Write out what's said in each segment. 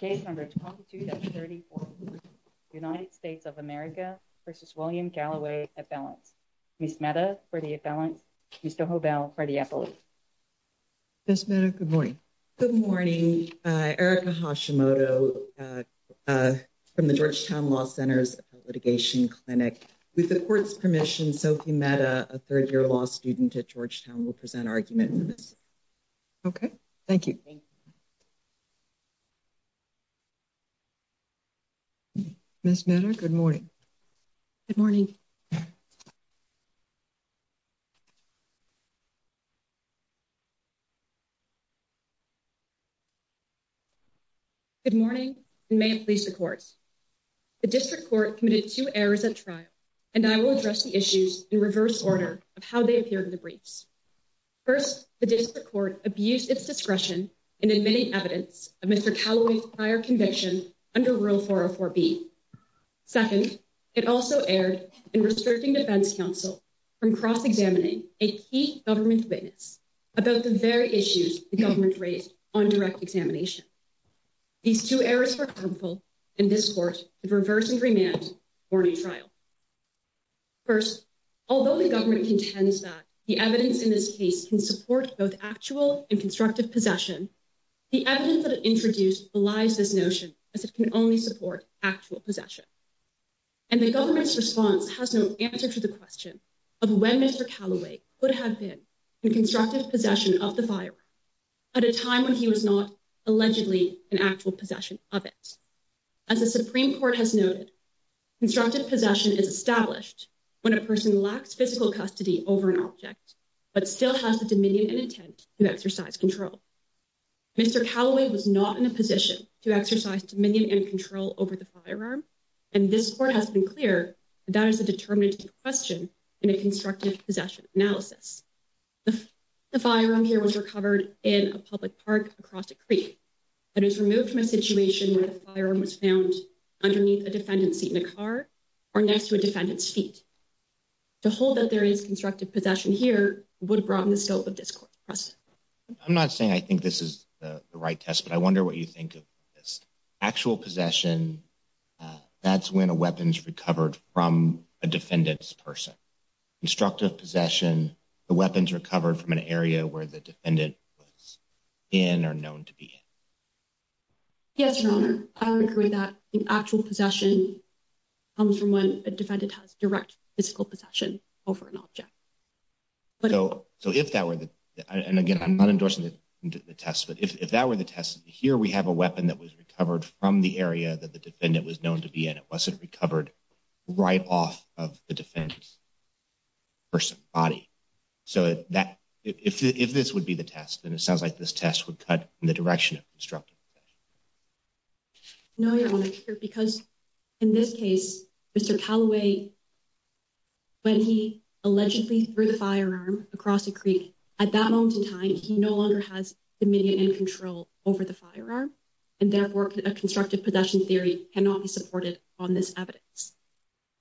Case number 22-34, United States of America v. William Calloway appellants, Ms. Mehta for the appellants, Mr. Hobell for the appellate. Ms. Mehta, good morning. Good morning. Erica Hashimoto from the Georgetown Law Center's Litigation Clinic. With the court's permission, Sophie Mehta, a third-year law student at Georgetown, will present our argument. Okay, thank you. Ms. Mehta, good morning. Good morning. Good morning. Good morning, and may it please the court. The district court committed two errors at trial, and I will address the issues in reverse order of how they appeared in the briefs. First, the district court abused its discretion in admitting evidence of Mr. Calloway's prior conviction under Rule 404B. Second, it also erred in restricting defense counsel from cross-examining a key government witness about the very issues the government raised on direct examination. These two errors were harmful, and this court should reverse and remand warning trial. First, although the government contends that the evidence in this case can support both actual and constructive possession, the evidence that it introduced belies this notion, as it can only support actual possession. And the government's response has no answer to the question of when Mr. Calloway could have been in constructive possession of the firearm at a time when he was not allegedly in actual possession of it. As the Supreme Court has noted, constructive possession is established when a person lacks physical custody over an object, but still has the dominion and intent to exercise control. Mr. Calloway was not in a position to exercise dominion and control over the firearm, and this court has been clear that that is a determinative question in a constructive possession analysis. The firearm here was recovered in a public park across a creek, but it was removed from a situation where the firearm was found underneath a defendant's seat in a car or next to a defendant's feet. To hold that there is constructive possession here would broaden the scope of this court's precedent. I'm not saying I think this is the right test, but I wonder what you think of this. Actual possession, that's when a weapon's recovered from a defendant's person. Constructive possession, the weapon's recovered from an area where the defendant was in or known to be in. Yes, Your Honor. I would agree that actual possession comes from when a defendant has direct physical possession over an object. So, if that were the, and again, I'm not endorsing the test, but if that were the test, here we have a weapon that was recovered from the area that the defendant was known to be in. It wasn't recovered right off of the defendant's person, body. So, if this would be the test, then it sounds like this test would cut in the direction of constructive possession. No, Your Honor, because in this case, Mr. Callaway, when he allegedly threw the firearm across a creek, at that moment in time, he no longer has dominion and control over the firearm. And therefore, a constructive possession theory cannot be supported on this evidence.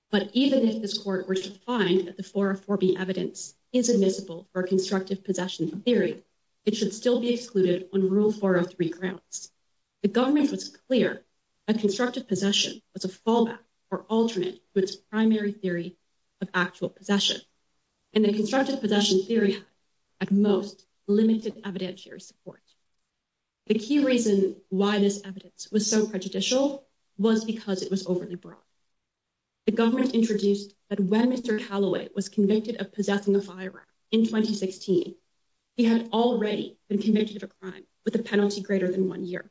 But even if this court were to find that the 404B evidence is admissible for a constructive possession theory, it should still be excluded on Rule 403 grounds. The government was clear that constructive possession was a fallback or alternate to its primary theory of actual possession. And the constructive possession theory had, at most, limited evidentiary support. The key reason why this evidence was so prejudicial was because it was overly broad. The government introduced that when Mr. Callaway was convicted of possessing a firearm in 2016, he had already been convicted of a crime with a penalty greater than one year.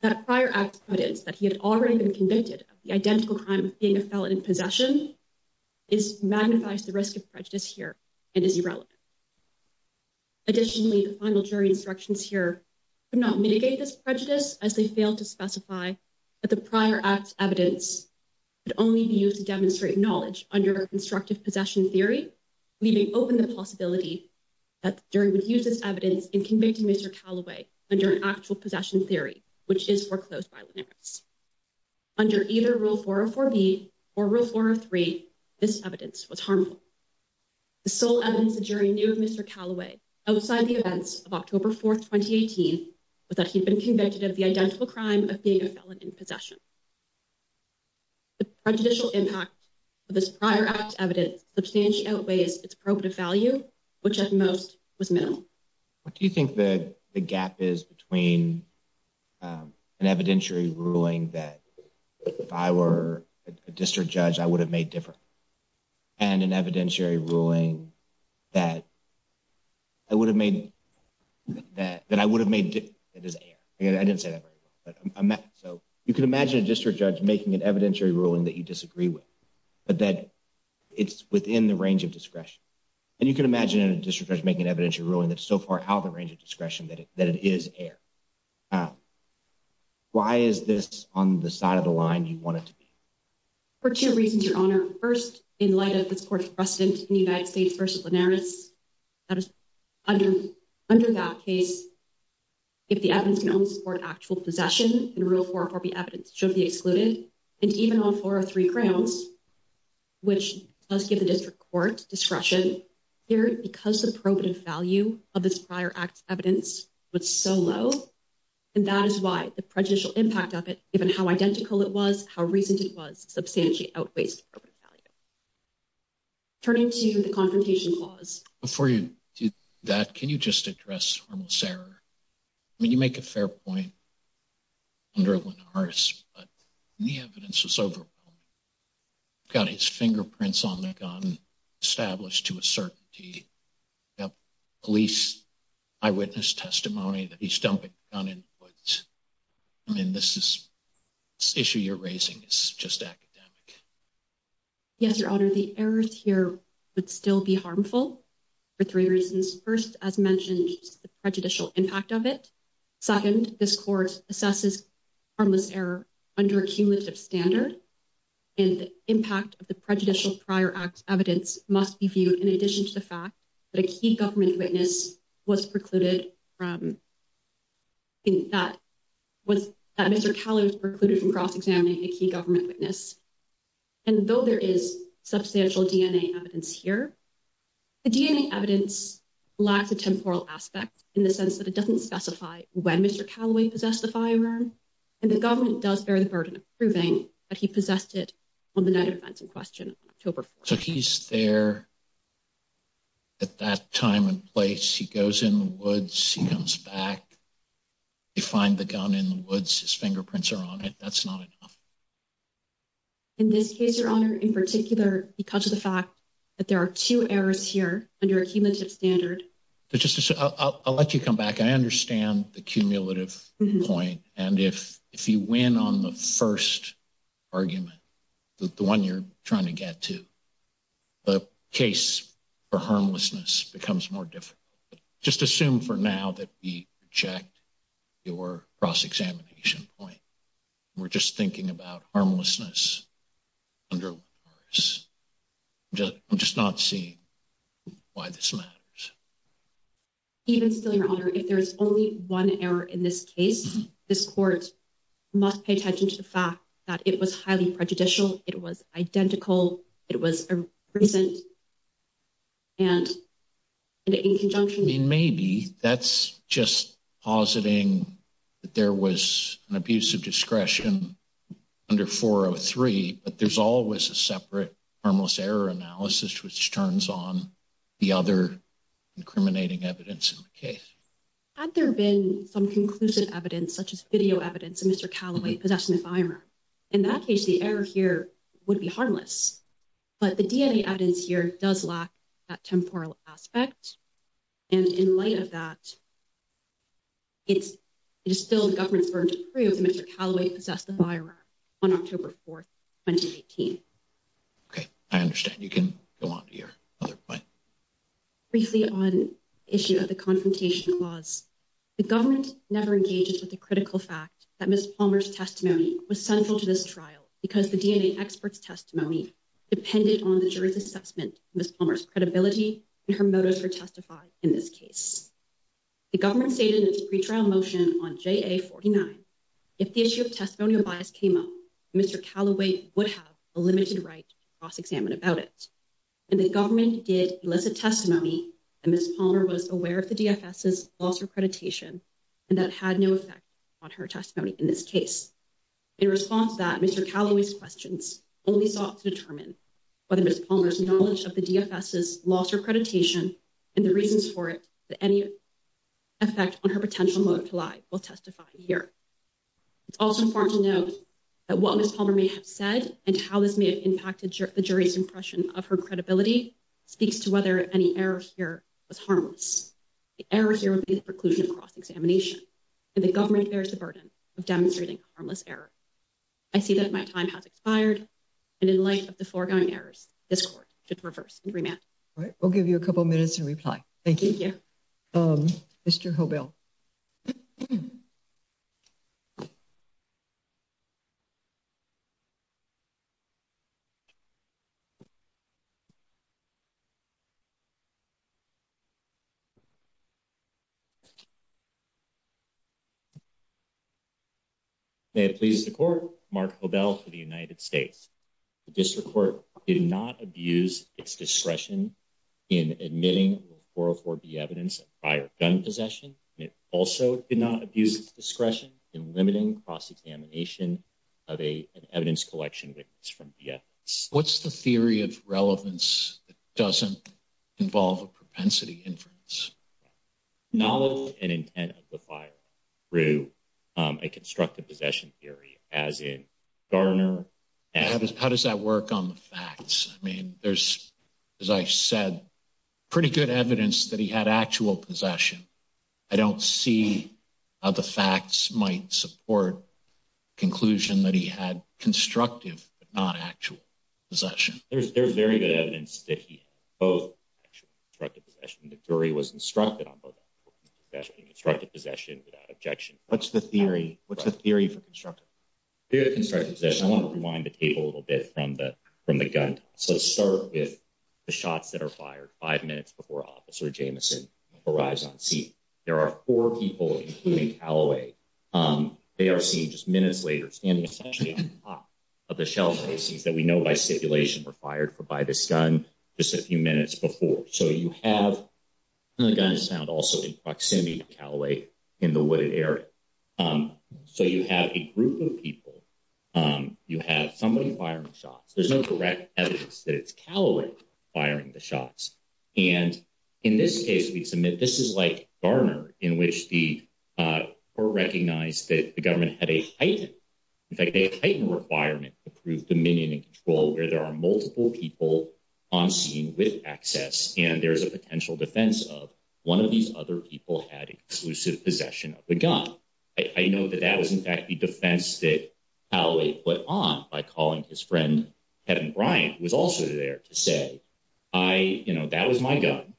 That prior act's evidence that he had already been convicted of the identical crime of being a felon in possession magnifies the risk of prejudice here and is irrelevant. Additionally, the final jury instructions here could not mitigate this prejudice, as they failed to specify that the prior act's evidence could only be used to demonstrate knowledge under a constructive possession theory, leaving open the possibility that the jury would use this evidence in convicting Mr. Callaway under an actual possession theory, which is foreclosed violent acts. Under either Rule 404B or Rule 403, this evidence was harmful. The sole evidence the jury knew of Mr. Callaway, outside the events of October 4, 2018, was that he had been convicted of the identical crime of being a felon in possession. The prejudicial impact of this prior act's evidence substantially outweighs its probative value, which, at most, was minimal. What do you think the gap is between an evidentiary ruling that if I were a district judge, I would have made different, and an evidentiary ruling that I would have made – that I would have made – I didn't say that very well. So you can imagine a district judge making an evidentiary ruling that you disagree with, but that it's within the range of discretion. And you can imagine a district judge making an evidentiary ruling that's so far out of the range of discretion that it is air. Why is this on the side of the line you want it to be? For two reasons, Your Honor. First, in light of this court's precedent in the United States v. Linares, under that case, if the evidence can only support actual possession, then Rule 404B evidence should be excluded. And even on 403 grounds, which does give the district court discretion, because the probative value of this prior act's evidence was so low, and that is why the prejudicial impact of it, given how identical it was, how recent it was, substantially outweighs the probative value. Turning to the Confrontation Clause. Before you do that, can you just address harmless error? I mean, you make a fair point under Linares, but the evidence was overwhelming. You've got his fingerprints on the gun established to a certainty. You've got police eyewitness testimony that he's dumping the gun in the woods. I mean, this is – this issue you're raising is just academic. Yes, Your Honor. The errors here would still be harmful for three reasons. First, as mentioned, the prejudicial impact of it. Second, this court assesses harmless error under a cumulative standard, and the impact of the prejudicial prior act's evidence must be viewed in addition to the fact that a key government witness was precluded from – and though there is substantial DNA evidence here, the DNA evidence lacks a temporal aspect in the sense that it doesn't specify when Mr. Callaway possessed the firearm, and the government does bear the burden of proving that he possessed it on the night of events in question on October 4th. So he's there at that time and place. He goes in the woods. He comes back. He finds the gun in the woods. His fingerprints are on it. That's not enough. In this case, Your Honor, in particular, because of the fact that there are two errors here under a cumulative standard – I'll let you come back. I understand the cumulative point, and if you win on the first argument, the one you're trying to get to, the case for harmlessness becomes more difficult. Just assume for now that we reject your cross-examination point. We're just thinking about harmlessness under one course. I'm just not seeing why this matters. Even still, Your Honor, if there is only one error in this case, this court must pay attention to the fact that it was highly prejudicial. It was identical. It was a recent and in conjunction. Maybe that's just positing that there was an abuse of discretion under 403, but there's always a separate harmless error analysis which turns on the other incriminating evidence in the case. Had there been some conclusive evidence, such as video evidence, of Mr. Callaway possessing the firearm? In that case, the error here would be harmless, but the DNA evidence here does lack that temporal aspect, and in light of that, it is still the government's burden to prove that Mr. Callaway possessed the firearm on October 4, 2018. Okay. I understand. You can go on to your other point. Briefly on the issue of the confrontation clause, the government never engages with the critical fact that Ms. Palmer's testimony was central to this trial because the DNA expert's testimony depended on the jury's assessment of Ms. Palmer's credibility and her motives for testifying in this case. The government stated in its pretrial motion on JA-49, if the issue of testimonial bias came up, Mr. Callaway would have a limited right to cross-examine about it, and the government did elicit testimony that Ms. Palmer was aware of the DFS's loss of accreditation, and that had no effect on her testimony in this case. In response to that, Mr. Callaway's questions only sought to determine whether Ms. Palmer's knowledge of the DFS's loss of accreditation and the reasons for it had any effect on her potential motive to lie, while testifying here. It's also important to note that what Ms. Palmer may have said and how this may have impacted the jury's impression of her credibility speaks to whether any error here was harmless. The error here would be the preclusion of cross-examination, and the government bears the burden of demonstrating harmless error. I see that my time has expired, and in light of the foregoing errors, this Court should reverse and remand. All right, we'll give you a couple minutes to reply. Thank you. Thank you. Mr. Hobell. May it please the Court, Mark Hobell for the United States. The District Court did not abuse its discretion in admitting 404B evidence of firearm possession, and it also did not abuse its discretion in limiting cross-examination of an evidence collection witness from DFS. What's the theory of relevance that doesn't involve a propensity inference? Knowledge and intent of the firearm through a constructive possession theory, as in Garner. How does that work on the facts? I mean, there's, as I said, pretty good evidence that he had actual possession. I don't see how the facts might support the conclusion that he had constructive but not actual possession. There's very good evidence that he had both actual and constructive possession. The jury was instructed on both actual and constructive possession without objection. What's the theory? What's the theory for constructive? Theory of constructive possession, I want to rewind the table a little bit from the gun. So let's start with the shots that are fired five minutes before Officer Jamison arrives on scene. There are four people, including Calloway. They are seen just minutes later standing essentially on top of the shelf that we know by stipulation were fired by this gun just a few minutes before. So you have the gun is found also in proximity to Calloway in the wooded area. So you have a group of people. You have somebody firing shots. There's no correct evidence that it's Calloway firing the shots. And in this case, we submit this is like Garner, in which the court recognized that the government had a heightened, in fact, a heightened requirement to prove dominion and control where there are multiple people on scene with access. And there is a potential defense of one of these other people had exclusive possession of the gun. I know that that was, in fact, the defense that Calloway put on by calling his friend, Kevin Bryant, was also there to say, I know that was my gun.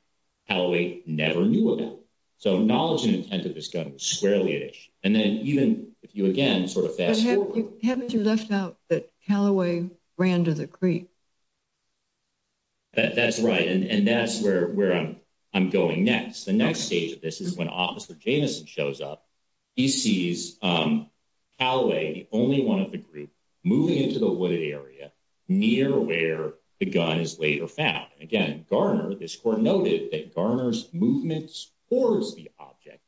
Calloway never knew about it. So knowledge and intent of this gun was squarely at issue. And then even if you again sort of fast forward. Haven't you left out that Calloway ran to the creek? That's right. And that's where I'm going next. The next stage of this is when Officer Jamison shows up, he sees Calloway, the only one of the group, moving into the wooded area near where the gun is later found. Again, Garner, this court noted that Garner's movements towards the object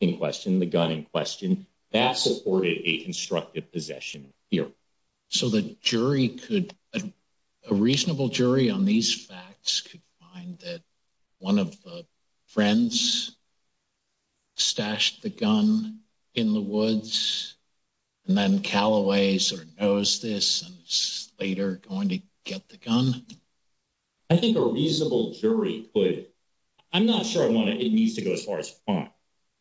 in question, the gun in question, that supported a constructive possession here. So the jury could, a reasonable jury on these facts could find that one of the friends stashed the gun in the woods and then Calloway sort of knows this and is later going to get the gun? I think a reasonable jury could, I'm not sure I want to, it needs to go as far as fun.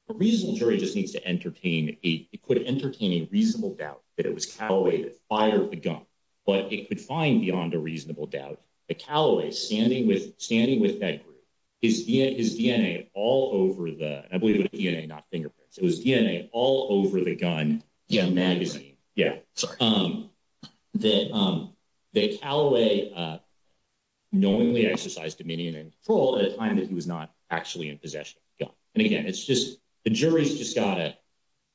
A reasonable jury just needs to entertain, it could entertain a reasonable doubt that it was Calloway that fired the gun. But it could find beyond a reasonable doubt that Calloway, standing with that group, his DNA all over the, I believe it was DNA, not fingerprints, it was DNA all over the gun magazine. Yeah, sorry. That Calloway knowingly exercised dominion and control at a time that he was not actually in possession of the gun. And again, it's just, the jury's just got to,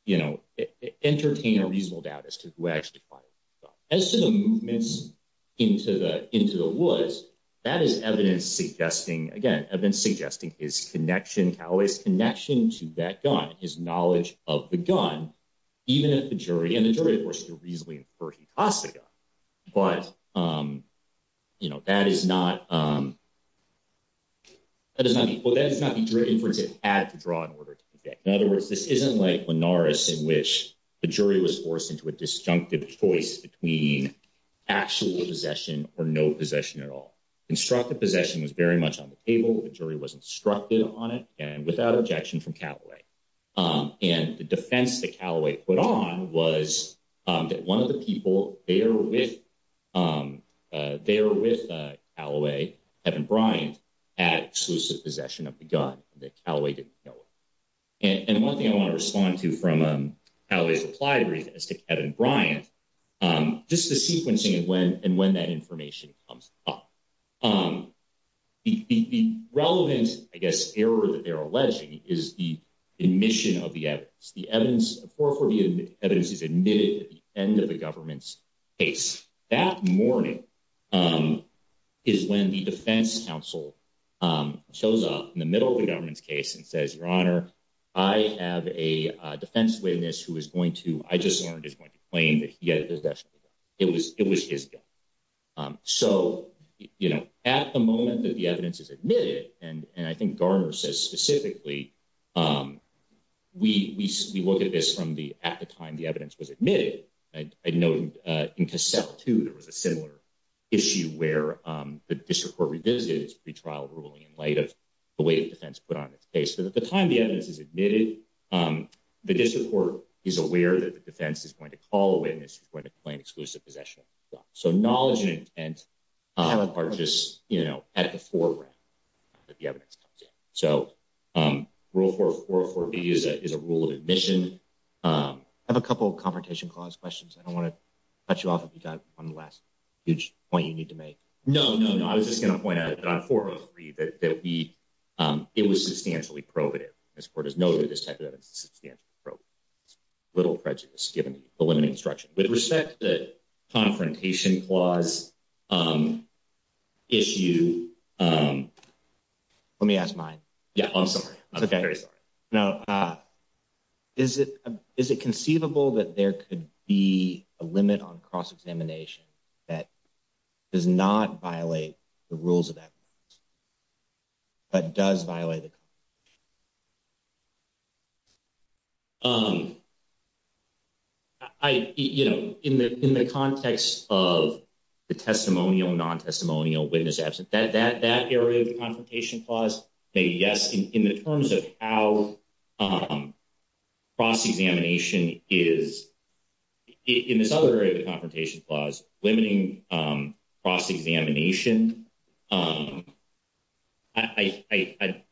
you know, entertain a reasonable doubt as to who actually fired the gun. Now, as to the movements into the woods, that is evidence suggesting, again, evidence suggesting his connection, Calloway's connection to that gun, his knowledge of the gun, even if the jury, and the jury of course could reasonably infer he tossed the gun. But, you know, that is not, that is not, well, that is not the inference it had to draw in order to convict. In other words, this isn't like Linares in which the jury was forced into a disjunctive choice between actual possession or no possession at all. Constructive possession was very much on the table, the jury was instructed on it, and without objection from Calloway. And the defense that Calloway put on was that one of the people there with Calloway, Kevin Bryant, had exclusive possession of the gun, that Calloway didn't know of. And one thing I want to respond to from Calloway's reply brief as to Kevin Bryant, just the sequencing and when that information comes up. The relevant, I guess, error that they're alleging is the admission of the evidence. The evidence, 440 evidence is admitted at the end of the government's case. That morning is when the defense counsel shows up in the middle of the government's case and says, Your Honor, I have a defense witness who is going to, I just learned is going to claim that he had possession of the gun. It was his gun. So, you know, at the moment that the evidence is admitted, and I think Garner says specifically, we look at this from the, at the time the evidence was admitted. I know in Cassell, too, there was a similar issue where the district court revisited its pretrial ruling in light of the way the defense put on its case. So at the time the evidence is admitted, the district court is aware that the defense is going to call a witness who's going to claim exclusive possession of the gun. So knowledge and intent are just, you know, at the foreground. So rule 404B is a rule of admission. I have a couple of Confrontation Clause questions. I don't want to cut you off if you've got one last huge point you need to make. No, no, no. I was just going to point out that on 403 that we, it was substantially prohibitive. This court has noted this type of evidence is substantially prohibitive. Little prejudice given the limiting structure. With respect to Confrontation Clause issue. Let me ask mine. Yeah, I'm sorry. I'm very sorry. No. Is it conceivable that there could be a limit on cross-examination that does not violate the rules of that? But does violate the Confrontation Clause? I, you know, in the context of the testimonial, non-testimonial witness absent, that area of the Confrontation Clause, maybe yes. In the terms of how cross-examination is, in this other area of the Confrontation Clause, limiting cross-examination. I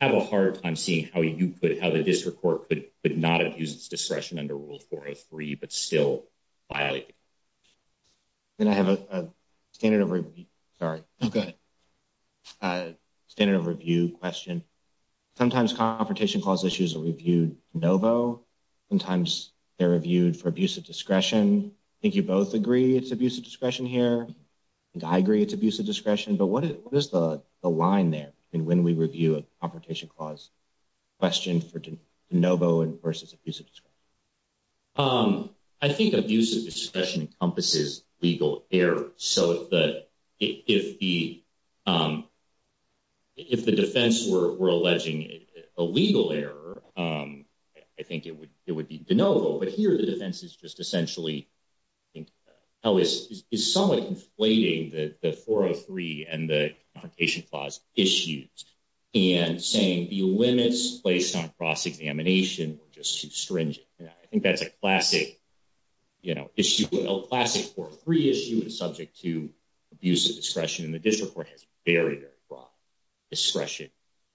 have a hard time seeing how you could, how the district court could not abuse its discretion under Rule 403, but still violate it. And I have a standard of review. Sorry. Go ahead. Standard of review question. Sometimes Confrontation Clause issues are reviewed de novo. Sometimes they're reviewed for abuse of discretion. I think you both agree it's abuse of discretion here. I think I agree it's abuse of discretion. But what is the line there when we review a Confrontation Clause question for de novo versus abuse of discretion? I think abuse of discretion encompasses legal error. So if the defense were alleging a legal error, I think it would be de novo. But here the defense is just essentially, I think, is somewhat conflating the 403 and the Confrontation Clause issues and saying the limits placed on cross-examination were just too stringent. I think that's a classic, you know, issue, a classic 403 issue is subject to abuse of discretion. And the district court has very, very broad discretion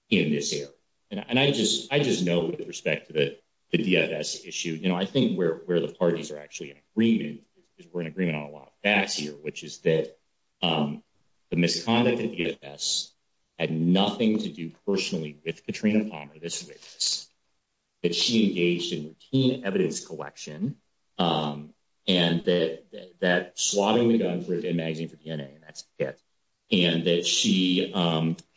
in this area. And I just know with respect to the DFS issue, you know, I think where the parties are actually in agreement is we're in agreement on a lot of facts here, which is that the misconduct of DFS had nothing to do personally with Katrina Palmer this witness, that she engaged in routine evidence collection, and that that slotting the gun for a dead magazine for DNA, and that's it, and that she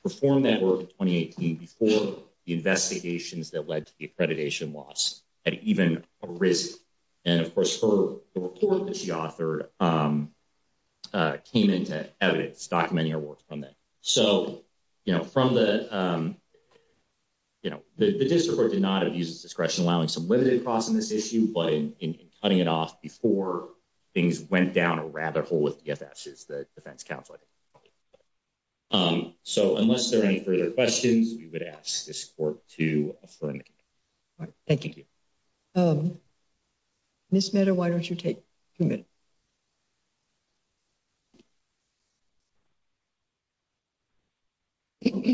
performed that work in 2018 before the investigations that led to the accreditation loss at even a risk. And, of course, her report that she authored came into evidence documenting her work from that. So, you know, from the, you know, the district court did not abuse of discretion, allowing some limited cross on this issue, but in cutting it off before things went down a rabbit hole with DFS, the defense counsel. So unless there are any further questions, we would ask this court to adjourn. Thank you. Miss Mehta, why don't you take a minute? Thank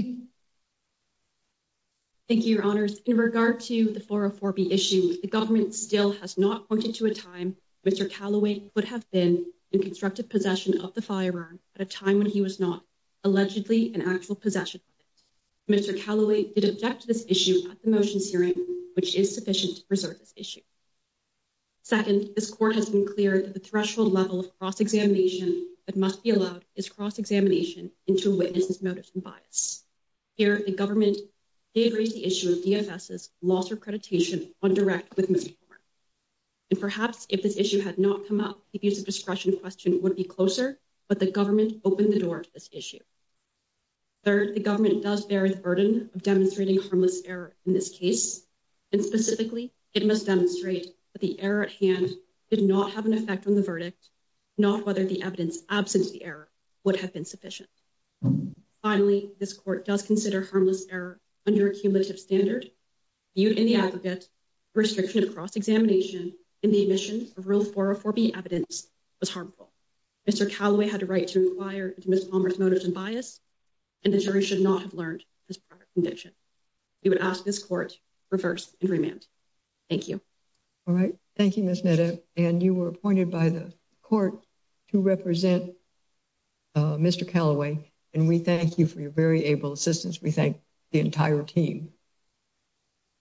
you, Your Honors. In regard to the 404B issue, the government still has not pointed to a time. Mr. Callaway would have been in constructive possession of the firearm at a time when he was not allegedly an actual possession. Mr. Callaway did object to this issue at the motions hearing, which is sufficient to preserve this issue. Second, this court has been clear that the threshold level of cross-examination that must be allowed is cross-examination into witnesses' motives and bias. Here, the government did raise the issue of DFS's loss of accreditation on direct witness report. And perhaps if this issue had not come up, the abuse of discretion question would be closer, but the government opened the door to this issue. Third, the government does bear the burden of demonstrating harmless error in this case. And specifically, it must demonstrate that the error at hand did not have an effect on the verdict, not whether the evidence absent the error would have been sufficient. Finally, this court does consider harmless error under a cumulative standard viewed in the aggregate restriction of cross-examination in the admission of Rule 404B evidence was harmful. Mr. Callaway had a right to inquire into Ms. Palmer's motives and bias, and the jury should not have learned his prior conviction. We would ask this court to reverse and remand. Thank you. All right. Thank you, Ms. Netto. And you were appointed by the court to represent Mr. Callaway, and we thank you for your very able assistance. We thank the entire team.